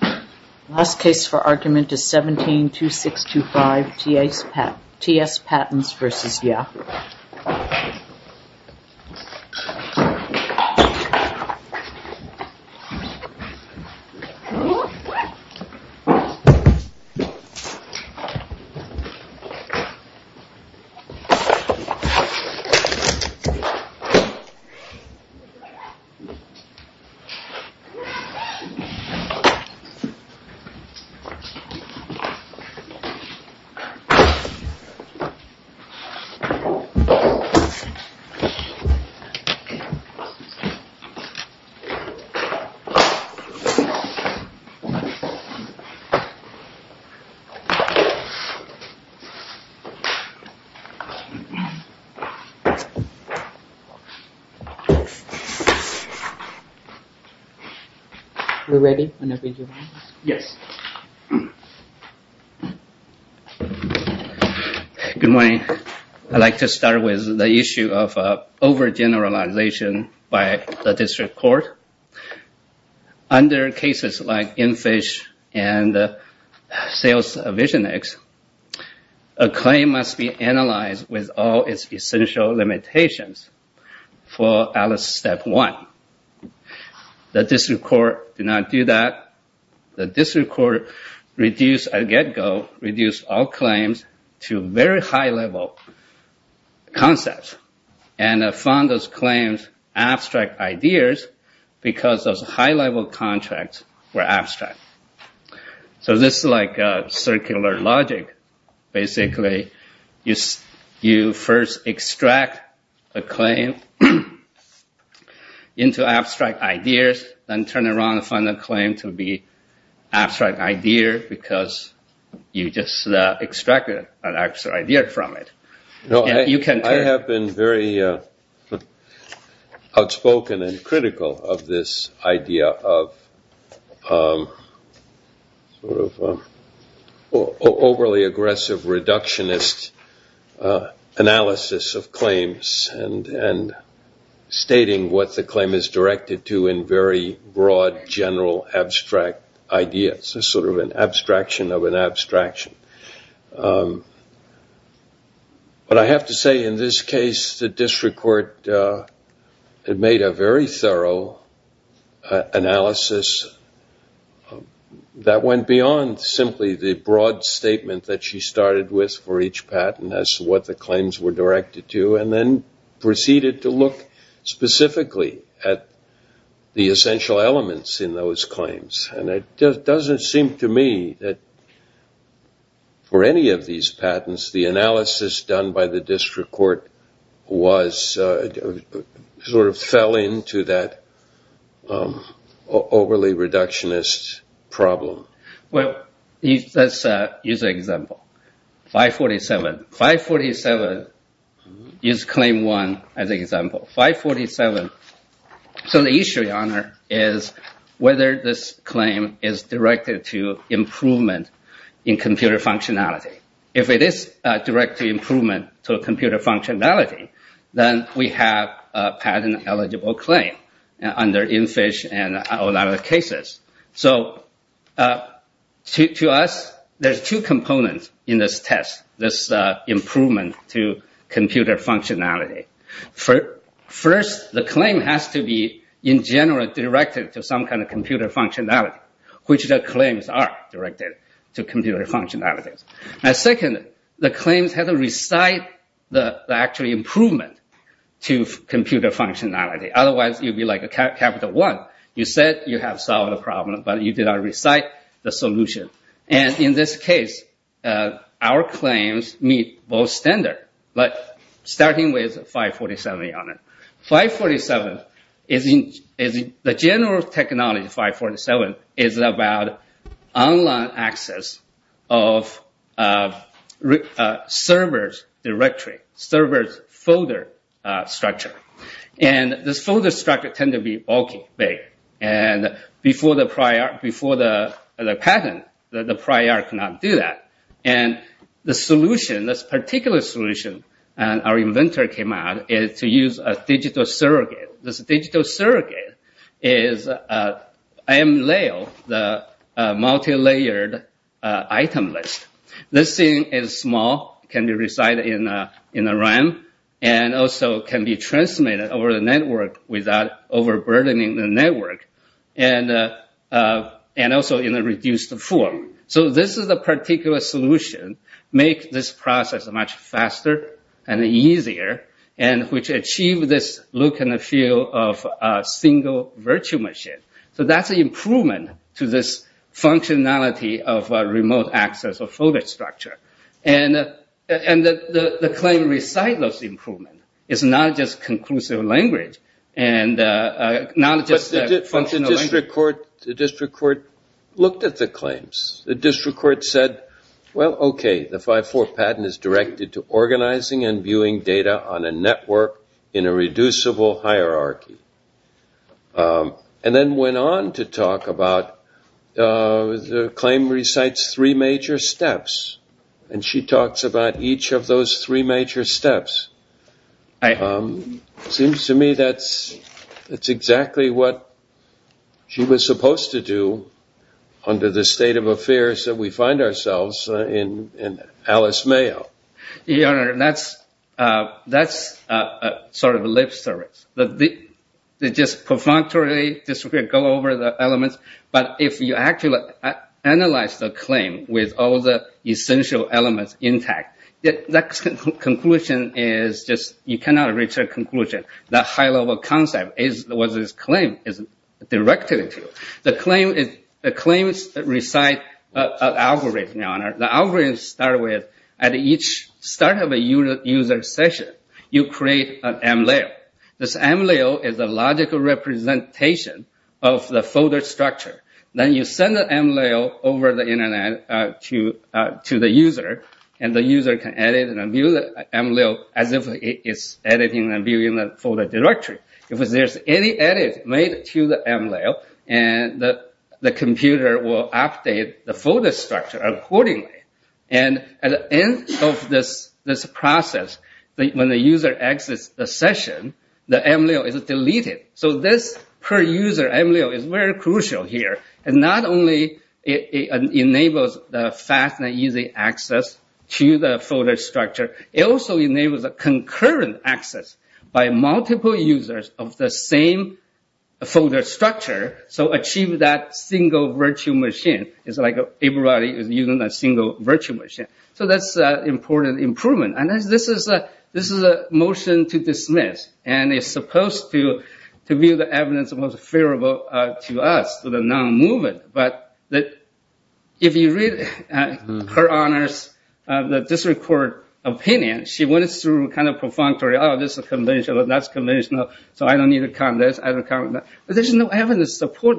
The last case for argument is 17-2625 T.S. Patents v. Yahoo! T.S. Patents v. Yahoo! Good morning. I'd like to start with the issue of over-generalization by the district court. Under cases like Infish and Sales Vision X, a claim must be analyzed with all its essential limitations for Alice Step 1. The district court did not do that. The district court reduced, at get-go, reduced all claims to very high-level concepts, and found those claims abstract ideas because those high-level contracts were abstract. So this is like circular logic. Basically, you first extract a claim into abstract ideas, then turn around and find a claim to be an abstract idea because you just extracted an abstract idea from it. I have been very outspoken and critical of this idea of overly aggressive reductionist analysis of claims and stating what the claim is directed to in very broad, general, abstract ideas. It's sort of an abstraction of an abstraction. But I have to say, in this case, the district court made a very thorough analysis that went beyond simply the broad statement that she started with for each patent as to what the claims were directed to, and then proceeded to look specifically at the essential elements in those claims. And it doesn't seem to me that for any of these patents, the analysis done by the district court sort of fell into that overly reductionist problem. Well, let's use an example. 547. 547 used Claim 1 as an example. 547. So the issue, Your Honor, is whether this claim is directed to improvement in computer functionality. If it is directed to improvement to computer functionality, then we have a patent-eligible claim under InFish and a lot of other cases. So to us, there's two components in this test, this improvement to computer functionality. First, the claim has to be, in general, directed to some kind of computer functionality, which the claims are directed to computer functionality. Second, the claims have to recite the actual improvement to computer functionality. Otherwise, you'd be like Capital One. You said you have solved the problem, but you did not recite the solution. And in this case, our claims meet both standards, starting with 547, Your Honor. 547, the general technology of 547 is about online access of server's directory, server's folder structure. And this folder structure tends to be bulky, big. And before the patent, the prior cannot do that. And the solution, this particular solution, our inventor came out, is to use a digital surrogate. This digital surrogate is MLail, the multi-layered item list. This thing is small, can be recited in a RAM, and also can be transmitted over the network without overburdening the network, and also in a reduced form. So this particular solution makes this process much faster and easier, which achieves this look and feel of a single virtual machine. So that's an improvement to this functionality of remote access of folder structure. And the claim recites those improvements. It's not just conclusive language. But the district court looked at the claims. The district court said, well, okay, the 5-4 patent is directed to organizing and viewing data on a network in a reducible hierarchy. And then went on to talk about the claim recites three major steps. And she talks about each of those three major steps. Seems to me that's exactly what she was supposed to do under the state of affairs that we find ourselves in Alice Mayo. Your Honor, that's sort of lip service. They just perfunctorily go over the elements. But if you actually analyze the claim with all the essential elements intact, that conclusion is just, you cannot reach a conclusion. That high-level concept is what this claim is directed to. The claims recite an algorithm, Your Honor. The algorithm starts with, at each start of a user session, you create an M-layer. This M-layer is a logical representation of the folder structure. Then you send the M-layer over the internet to the user. And the user can edit and view the M-layer as if it's editing and viewing the folder directory. If there's any edit made to the M-layer, the computer will update the folder structure accordingly. And at the end of this process, when the user exits the session, the M-layer is deleted. So this per-user M-layer is very crucial here. And not only enables the fast and easy access to the folder structure, it also enables concurrent access by multiple users of the same folder structure. So achieve that single virtual machine. It's like everybody is using a single virtual machine. So that's an important improvement. And this is a motion to dismiss. And it's supposed to be the evidence most favorable to us, to the non-movement. But if you read her honors, the district court opinion, she went through a kind of pro-functory, oh, this is conventional, that's conventional, so I don't need to count this, I don't count that. But there's no evidence to support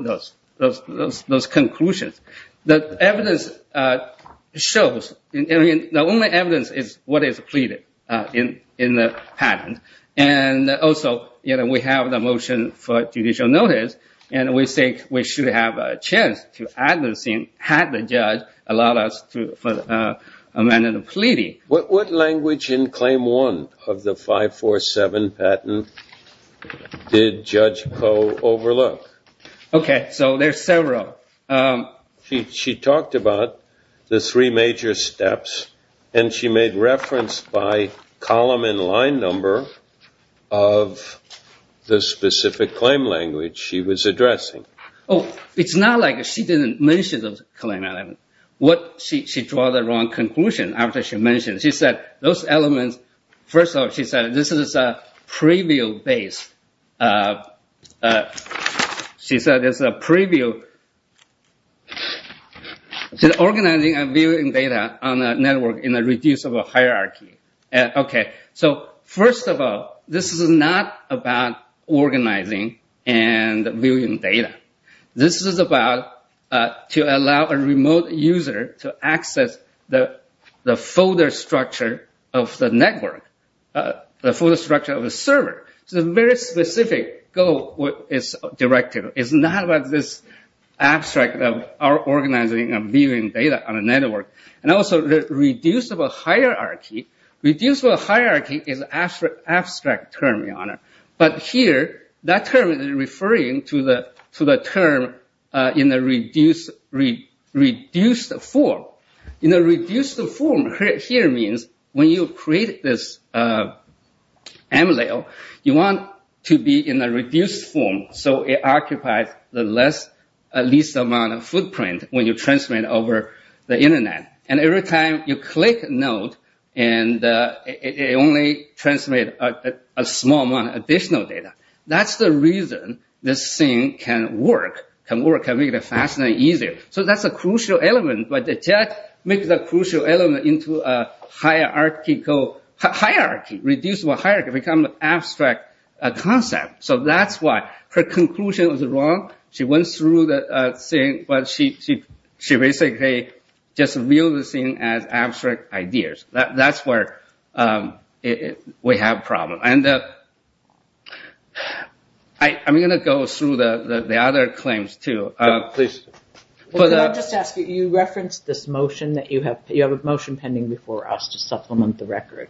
those conclusions. The evidence shows, the only evidence is what is pleaded in the patent. And also, we have the motion for judicial notice, and we think we should have a chance to add this in had the judge allowed us to amend the pleading. What language in claim one of the 547 patent did Judge Koh overlook? Okay, so there's several. She talked about the three major steps, and she made reference by column and line number of the specific claim language she was addressing. Oh, it's not like she didn't mention the claim element. She drew the wrong conclusion after she mentioned it. She said those elements, first of all, she said this is preview-based. She said organizing and viewing data on a network in a reducible hierarchy. Okay, so first of all, this is not about organizing and viewing data. This is about to allow a remote user to access the folder structure of the network, the folder structure of the server. So a very specific goal is directed. It's not about this abstract of our organizing and viewing data on a network. And also, reducible hierarchy. But here, that term is referring to the term in a reduced form. In a reduced form here means when you create this MLAO, you want to be in a reduced form so it occupies the least amount of footprint when you transmit over the Internet. And every time you click a node, it only transmits a small amount of additional data. That's the reason this thing can work, can make it faster and easier. So that's a crucial element. But that makes the crucial element into a hierarchy. Reducible hierarchy becomes an abstract concept. So that's why her conclusion was wrong. She went through the thing, but she basically just viewed the thing as abstract ideas. That's where we have problems. And I'm going to go through the other claims too. Please. I'll just ask you, you referenced this motion that you have a motion pending before us to supplement the record.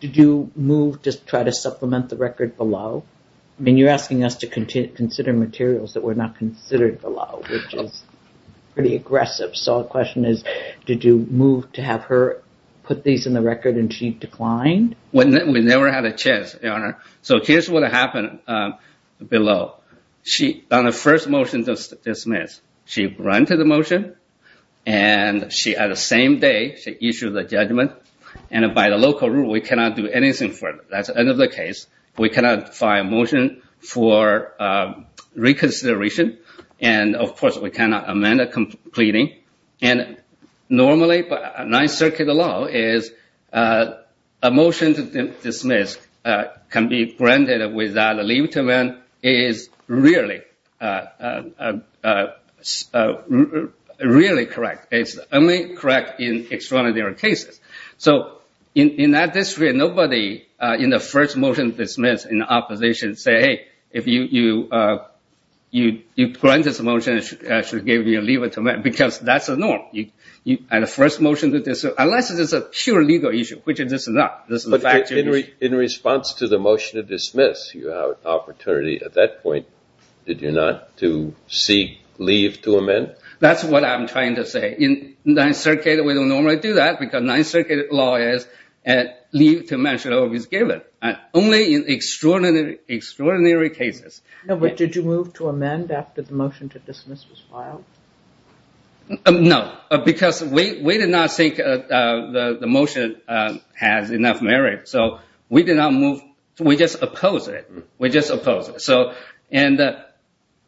Did you move to try to supplement the record below? I mean, you're asking us to consider materials that were not considered below, which is pretty aggressive. So the question is, did you move to have her put these in the record and she declined? We never had a chance, Your Honor. So here's what happened below. On the first motion to dismiss, she granted the motion. And at the same day, she issued the judgment. And by the local rule, we cannot do anything further. That's the end of the case. We cannot find a motion for reconsideration. And, of course, we cannot amend a completing. And normally, by 9th Circuit law, a motion to dismiss can be granted without a leave to amend. It is rarely correct. It's only correct in extraordinary cases. So in that district, nobody in the first motion to dismiss in the opposition said, hey, if you grant this motion, it should give you a leave to amend, because that's the norm. Unless it is a pure legal issue, which it is not. In response to the motion to dismiss, you have an opportunity at that point, did you not, to seek leave to amend? That's what I'm trying to say. In 9th Circuit, we don't normally do that, because 9th Circuit law is leave to amend should always be given, only in extraordinary, extraordinary cases. But did you move to amend after the motion to dismiss was filed? No, because we did not think the motion has enough merit. So we did not move. We just opposed it. We just opposed it.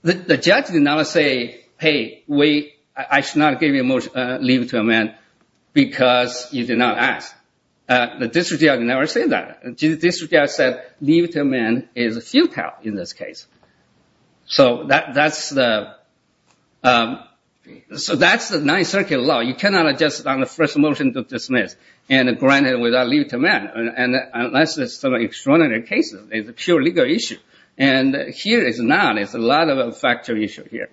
The judge did not say, hey, wait, I should not give you a leave to amend, because you did not ask. The district judge never said that. The district judge said leave to amend is futile in this case. So that's the 9th Circuit law. You cannot adjust on the first motion to dismiss and grant it without leave to amend, unless it's an extraordinary case. It's a pure legal issue. And here, it's not. It's a lot of a factual issue here.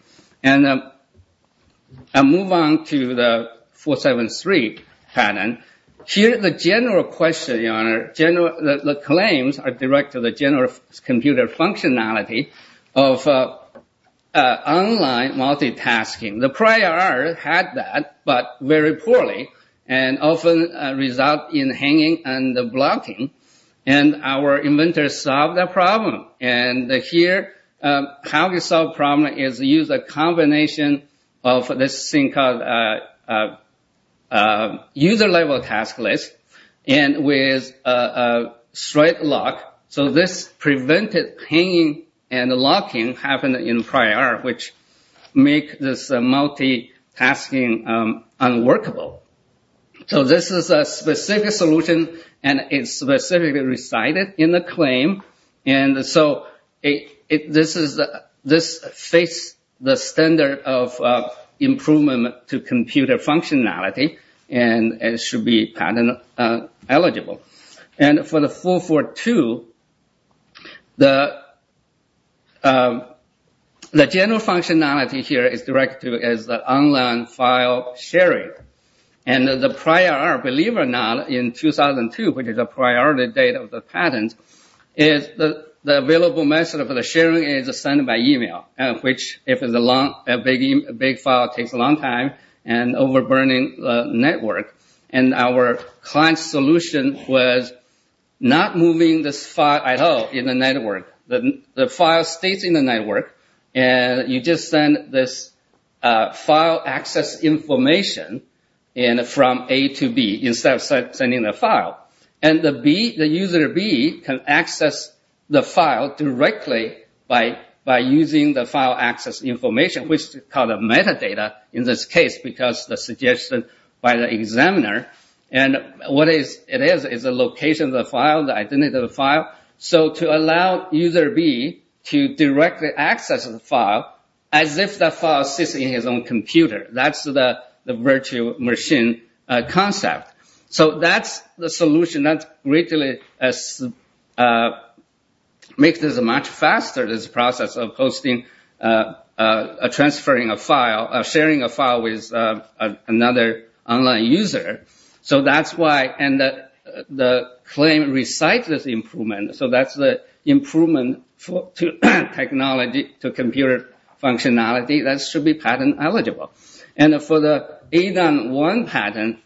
I'll move on to the 473 pattern. Here, the general question, Your Honor, the claims are direct to the general computer functionality of online multitasking. The prior art had that, but very poorly, and often result in hanging and blocking. And our inventors solved that problem. And here, how we solved the problem is to use a combination of this thing called user-level task list and with a straight lock. So this prevented hanging and locking happening in prior art, which makes this multitasking unworkable. So this is a specific solution, and it's specifically recited in the claim. And so this fits the standard of improvement to computer functionality, and it should be patent eligible. And for the 442, the general functionality here is directed to online file sharing. And the prior art, believe it or not, in 2002, which is a priority date of the patent, is the available method of sharing is sent by email, which, if it's a big file, takes a long time, and overburning the network. And our client solution was not moving this file at all in the network. The file stays in the network, and you just send this file access information from A to B, instead of sending the file. And the user B can access the file directly by using the file access information, which is called metadata in this case, because the suggestion by the examiner. And what it is, is the location of the file, the identity of the file. So to allow user B to directly access the file, as if the file sits in his own computer. That's the virtual machine concept. So that's the solution that makes this much faster, this process of sharing a file with another online user. So that's why the claim recites this improvement. So that's the improvement to technology, to computer functionality. That should be patent eligible. And for the ADAM1 patent,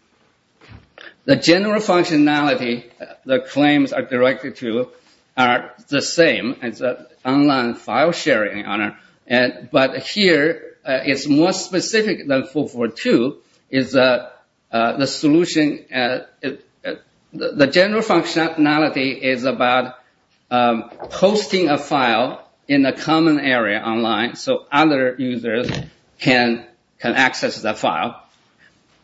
the general functionality the claims are directed to are the same as online file sharing. But here, it's more specific than 442. The general functionality is about posting a file in a common area online, so other users can access the file.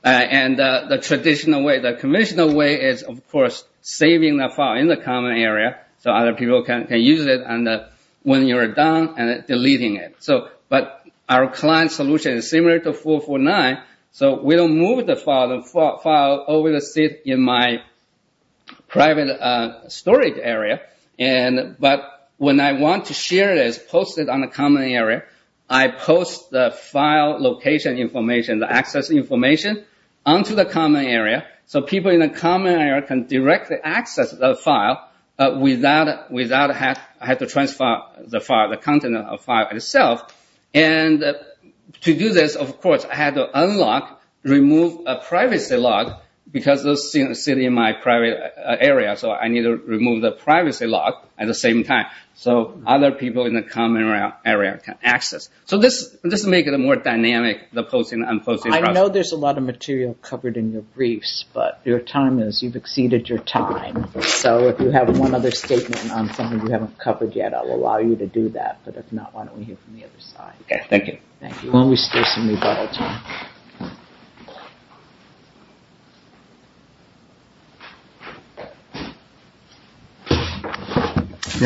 And the traditional way, the conventional way, is of course saving the file in the common area, so other people can use it. And when you're done, deleting it. But our client solution is similar to 449, so we don't move the file over to sit in my private storage area. But when I want to share this, post it on the common area, I post the file location information, the access information, onto the common area. So people in the common area can directly access the file without having to transfer the content of the file itself. And to do this, of course, I have to unlock, remove a privacy lock, because those sit in my private area. So I need to remove the privacy lock at the same time, so other people in the common area can access. So this makes it more dynamic, the posting and unposting process. I know there's a lot of material covered in your briefs, but your time is, you've exceeded your time. So if you have one other statement on something you haven't covered yet, I'll allow you to do that. But if not, why don't we hear from the other side. Okay, thank you. Thank you. May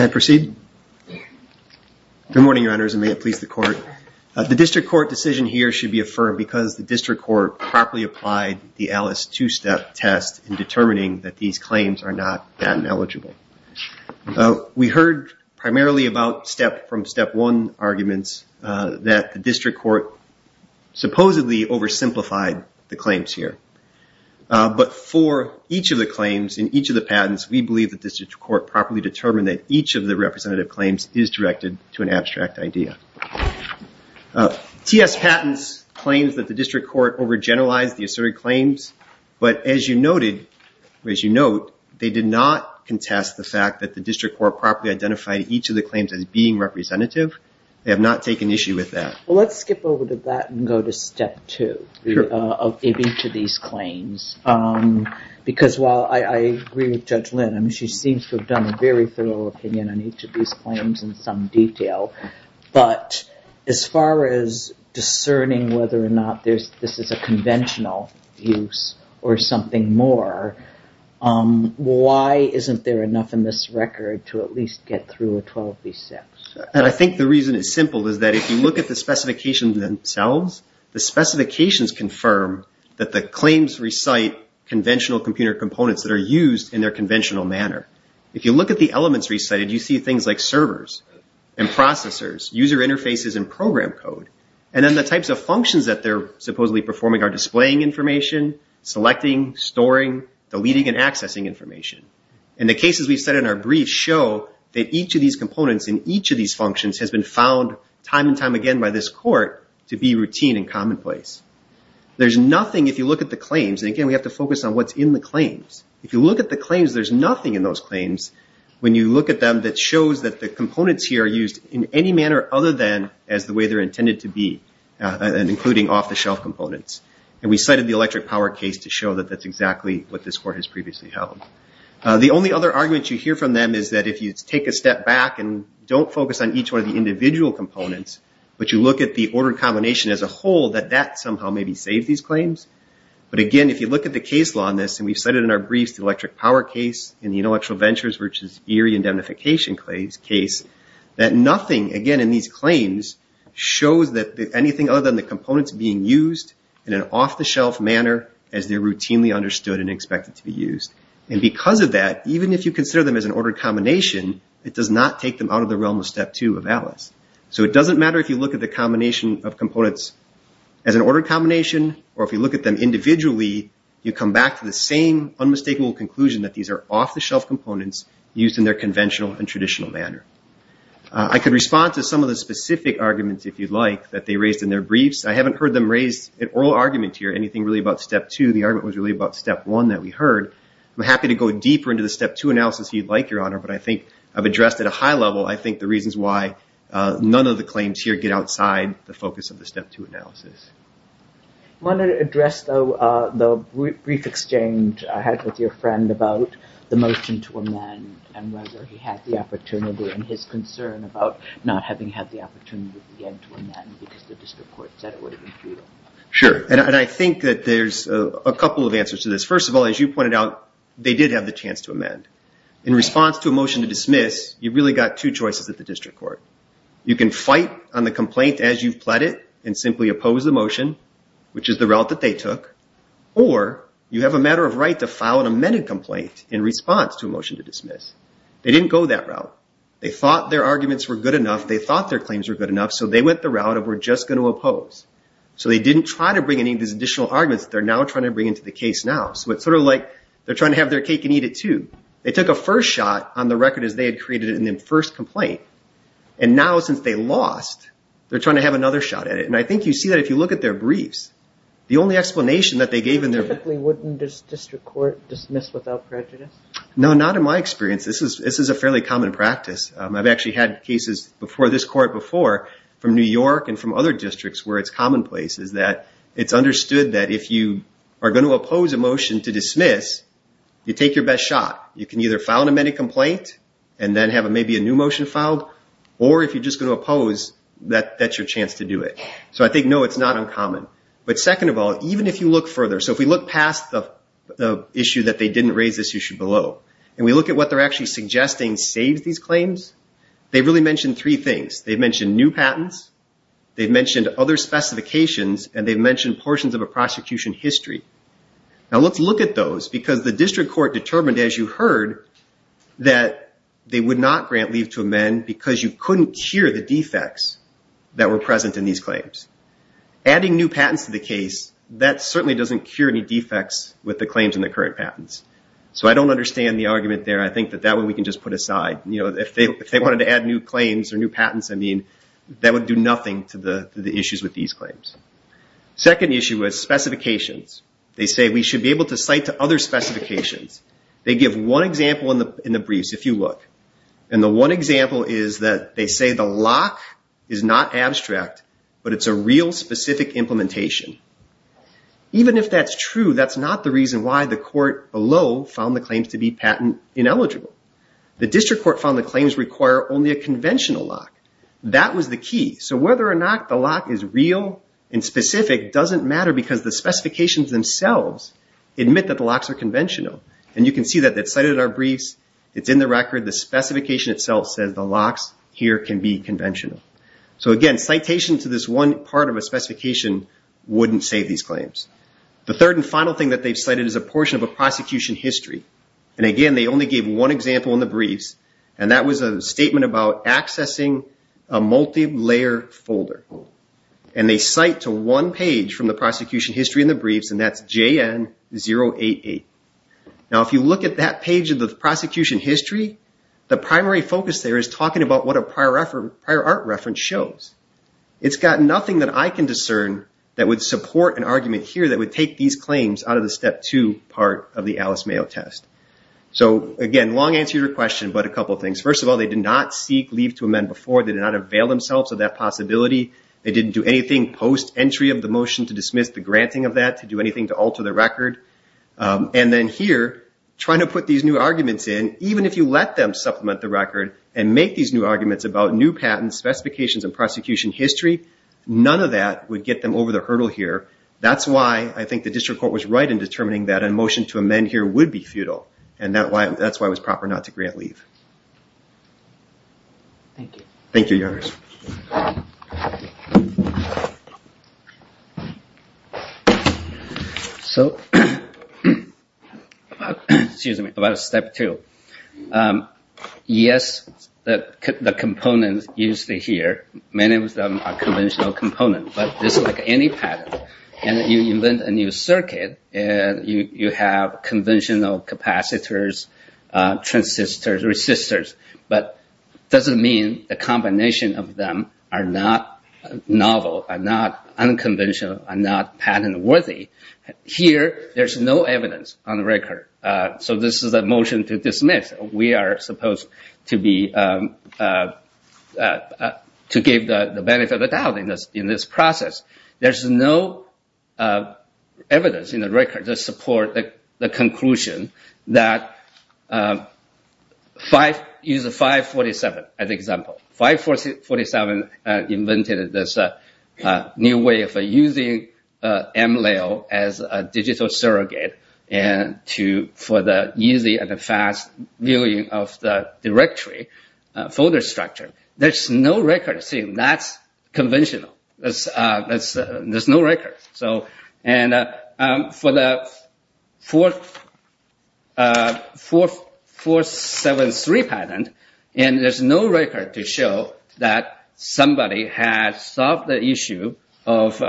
I proceed? Yeah. Good morning, your honors, and may it please the court. The district court decision here should be affirmed because the district court properly applied the Alice two-step test in determining that these claims are not patent eligible. We heard primarily about step from step one arguments that the district court supposedly oversimplified the claims here. But for each of the claims in each of the patents, we believe that the district court properly determined that each of the representative claims is directed to an abstract idea. TS patents claims that the district court overgeneralized the asserted claims. But as you noted, they did not contest the fact that the district court properly identified each of the claims as being representative. They have not taken issue with that. Well, let's skip over to that and go to step two of each of these claims. Because while I agree with Judge Lynn, she seems to have done a very thorough opinion on each of these claims in some detail. But as far as discerning whether or not this is a conventional use or something more, why isn't there enough in this record to at least get through a 12B6? And I think the reason it's simple is that if you look at the specifications themselves, the specifications confirm that the claims recite conventional computer components that are used in their conventional manner. If you look at the elements recited, you see things like servers and processors, user interfaces and program code. And then the types of functions that they're supposedly performing are displaying information, selecting, storing, deleting and accessing information. And the cases we've said in our brief show that each of these components in each of these functions has been found time and time again by this court to be routine and commonplace. There's nothing, if you look at the claims, and again, we have to focus on what's in the claims. If you look at the claims, there's nothing in those claims, when you look at them, that shows that the components here are used in any manner other than as the way they're intended to be, including off-the-shelf components. And we cited the electric power case to show that that's exactly what this court has previously held. The only other argument you hear from them is that if you take a step back and don't focus on each one of the individual components, but you look at the order combination as a whole, that that somehow maybe saves these claims. But, again, if you look at the case law on this, and we've cited in our briefs the electric power case and the intellectual ventures versus eerie indemnification case, that nothing, again, in these claims shows that anything other than the components being used in an off-the-shelf manner as they're routinely understood and expected to be used. And because of that, even if you consider them as an order combination, it does not take them out of the realm of step two of Atlas. So it doesn't matter if you look at the combination of components as an order combination or if you look at them individually, you come back to the same unmistakable conclusion that these are off-the-shelf components used in their conventional and traditional manner. I could respond to some of the specific arguments, if you'd like, that they raised in their briefs. I haven't heard them raise an oral argument here, anything really about step two. The argument was really about step one that we heard. I'm happy to go deeper into the step two analysis if you'd like, Your Honor, but I think I've addressed at a high level, I think, the reasons why none of the claims here get outside the focus of the step two analysis. I wanted to address, though, the brief exchange I had with your friend about the motion to amend and whether he had the opportunity and his concern about not having had the opportunity yet to amend because the district court said it would have been futile. Sure, and I think that there's a couple of answers to this. First of all, as you pointed out, they did have the chance to amend. In response to a motion to dismiss, you've really got two choices at the district court. You can fight on the complaint as you've pled it and simply oppose the motion, which is the route that they took, or you have a matter of right to file an amended complaint in response to a motion to dismiss. They didn't go that route. They thought their arguments were good enough. They thought their claims were good enough, so they went the route of we're just going to oppose. So they didn't try to bring any of these additional arguments that they're now trying to bring into the case now. So it's sort of like they're trying to have their cake and eat it, too. They took a first shot on the record as they had created it in their first complaint, and now since they lost, they're trying to have another shot at it. And I think you see that if you look at their briefs. The only explanation that they gave in their briefs. Typically, wouldn't this district court dismiss without prejudice? No, not in my experience. This is a fairly common practice. I've actually had cases before this court before from New York and from other districts where it's commonplace, is that it's understood that if you are going to oppose a motion to dismiss, you take your best shot. You can either file an amended complaint and then have maybe a new motion filed, or if you're just going to oppose, that's your chance to do it. So I think, no, it's not uncommon. But second of all, even if you look further, so if we look past the issue that they didn't raise this issue below, and we look at what they're actually suggesting saves these claims, they really mention three things. They mention new patents. They mention other specifications. And they mention portions of a prosecution history. Now, let's look at those because the district court determined, as you heard, that they would not grant leave to amend because you couldn't cure the defects that were present in these claims. Adding new patents to the case, that certainly doesn't cure any defects with the claims in the current patents. So I don't understand the argument there. I think that that one we can just put aside. If they wanted to add new claims or new patents, that would do nothing to the issues with these claims. Second issue is specifications. They say we should be able to cite to other specifications. They give one example in the briefs, if you look. And the one example is that they say the lock is not abstract, but it's a real specific implementation. Even if that's true, that's not the reason why the court below found the claims to be patent ineligible. The district court found the claims require only a conventional lock. That was the key. So whether or not the lock is real and specific doesn't matter because the specifications themselves admit that the locks are conventional. And you can see that that's cited in our briefs. It's in the record. The specification itself says the locks here can be conventional. So again, citation to this one part of a specification wouldn't save these claims. The third and final thing that they've cited is a portion of a prosecution history. And again, they only gave one example in the briefs, and that was a statement about accessing a multi-layer folder. And they cite to one page from the prosecution history in the briefs, and that's JN 088. Now, if you look at that page of the prosecution history, the primary focus there is talking about what a prior art reference shows. It's got nothing that I can discern that would support an argument here that would take these claims out of the Step 2 part of the Alice Mayo test. So again, long answer to your question, but a couple of things. First of all, they did not seek leave to amend before. They did not avail themselves of that possibility. They didn't do anything post-entry of the motion to dismiss the granting of that, to do anything to alter the record. And then here, trying to put these new arguments in, even if you let them supplement the record and make these new arguments about new patents, specifications, and prosecution history, none of that would get them over the hurdle here. That's why I think the district court was right in determining that a motion to amend here would be futile, and that's why it was proper not to grant leave. Thank you. Thank you, Your Honor. So, excuse me, about Step 2. Yes, the components used here, many of them are conventional components, but just like any patent, you invent a new circuit, and you have conventional capacitors, transistors, resistors, but it doesn't mean the combination of them are not novel, are not unconventional, are not patent-worthy. Here, there's no evidence on the record. So this is a motion to dismiss. We are supposed to give the benefit of the doubt in this process. There's no evidence in the record to support the conclusion that 547 is an example. 547 invented this new way of using MLAO as a digital surrogate for the easy and fast viewing of the directory folder structure. There's no record saying that's conventional. There's no record. For the 473 patent, there's no record to show that somebody has solved the issue of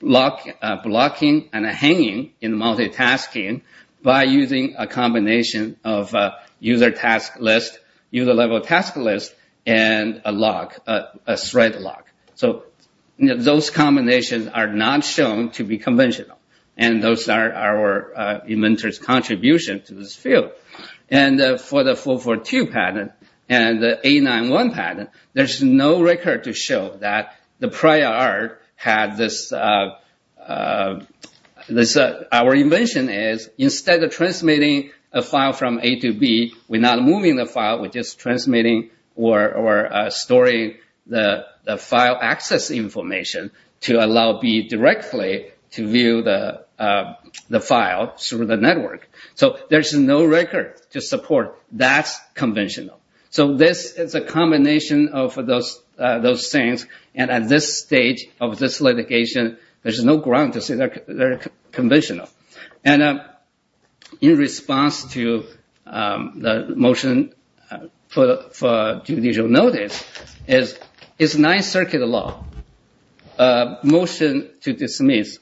blocking and hanging in multitasking by using a combination of user-level task list and a thread lock. So those combinations are not shown to be conventional, and those are our inventors' contributions to this field. For the 442 patent and the 891 patent, there's no record to show that the prior art had this. Our invention is instead of transmitting a file from A to B, we're not moving the file. We're just transmitting or storing the file access information to allow B directly to view the file through the network. So there's no record to support that's conventional. So this is a combination of those things, and at this stage of this litigation, there's no ground to say they're conventional. In response to the motion for judicial notice, it's a Ninth Circuit law. A motion to dismiss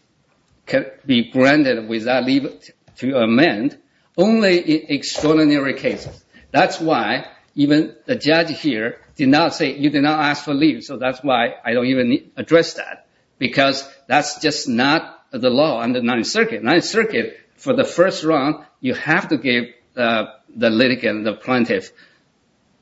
can be granted without leave to amend only in extraordinary cases. That's why even the judge here did not say, you did not ask for leave, so that's why I don't even address that. Because that's just not the law under Ninth Circuit. Ninth Circuit, for the first round, you have to give the litigant, the plaintiff,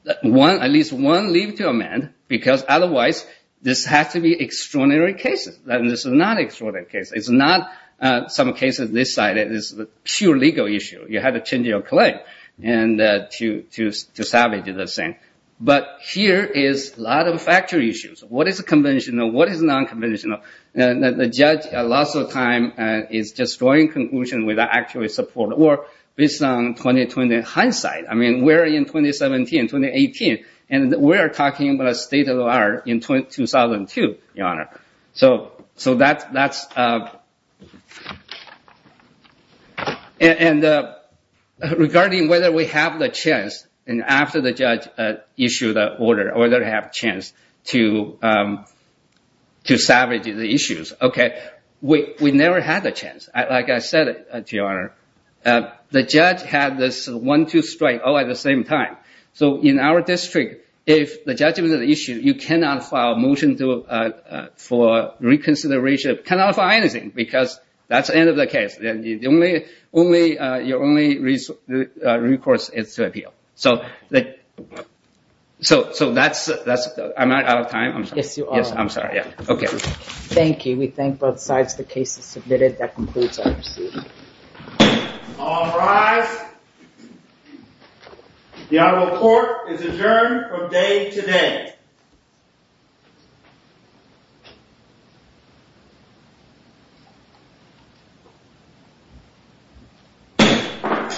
at least one leave to amend, because otherwise this has to be extraordinary cases. This is not an extraordinary case. It's not, in some cases, this side is a pure legal issue. You have to change your claim to salvage the thing. But here is a lot of factual issues. What is conventional? What is non-conventional? The judge, lots of time, is just drawing conclusions without actually supporting, or based on 2020 hindsight. I mean, we're in 2017, 2018, and we are talking about a state of the art in 2002, Your Honor. So that's... And regarding whether we have the chance, and after the judge issued the order, or whether we have a chance to salvage the issues. Okay, we never had the chance. Like I said, Your Honor, the judge had this one-two strike all at the same time. So in our district, if the judgment of the issue, you cannot file a motion for reconsideration, cannot file anything, because that's the end of the case. Your only recourse is to appeal. So that's... Am I out of time? Yes, you are. Yes, I'm sorry. Okay. Thank you. We thank both sides. The case is submitted. That concludes our hearing. All rise. The Honorable Court is adjourned from day today.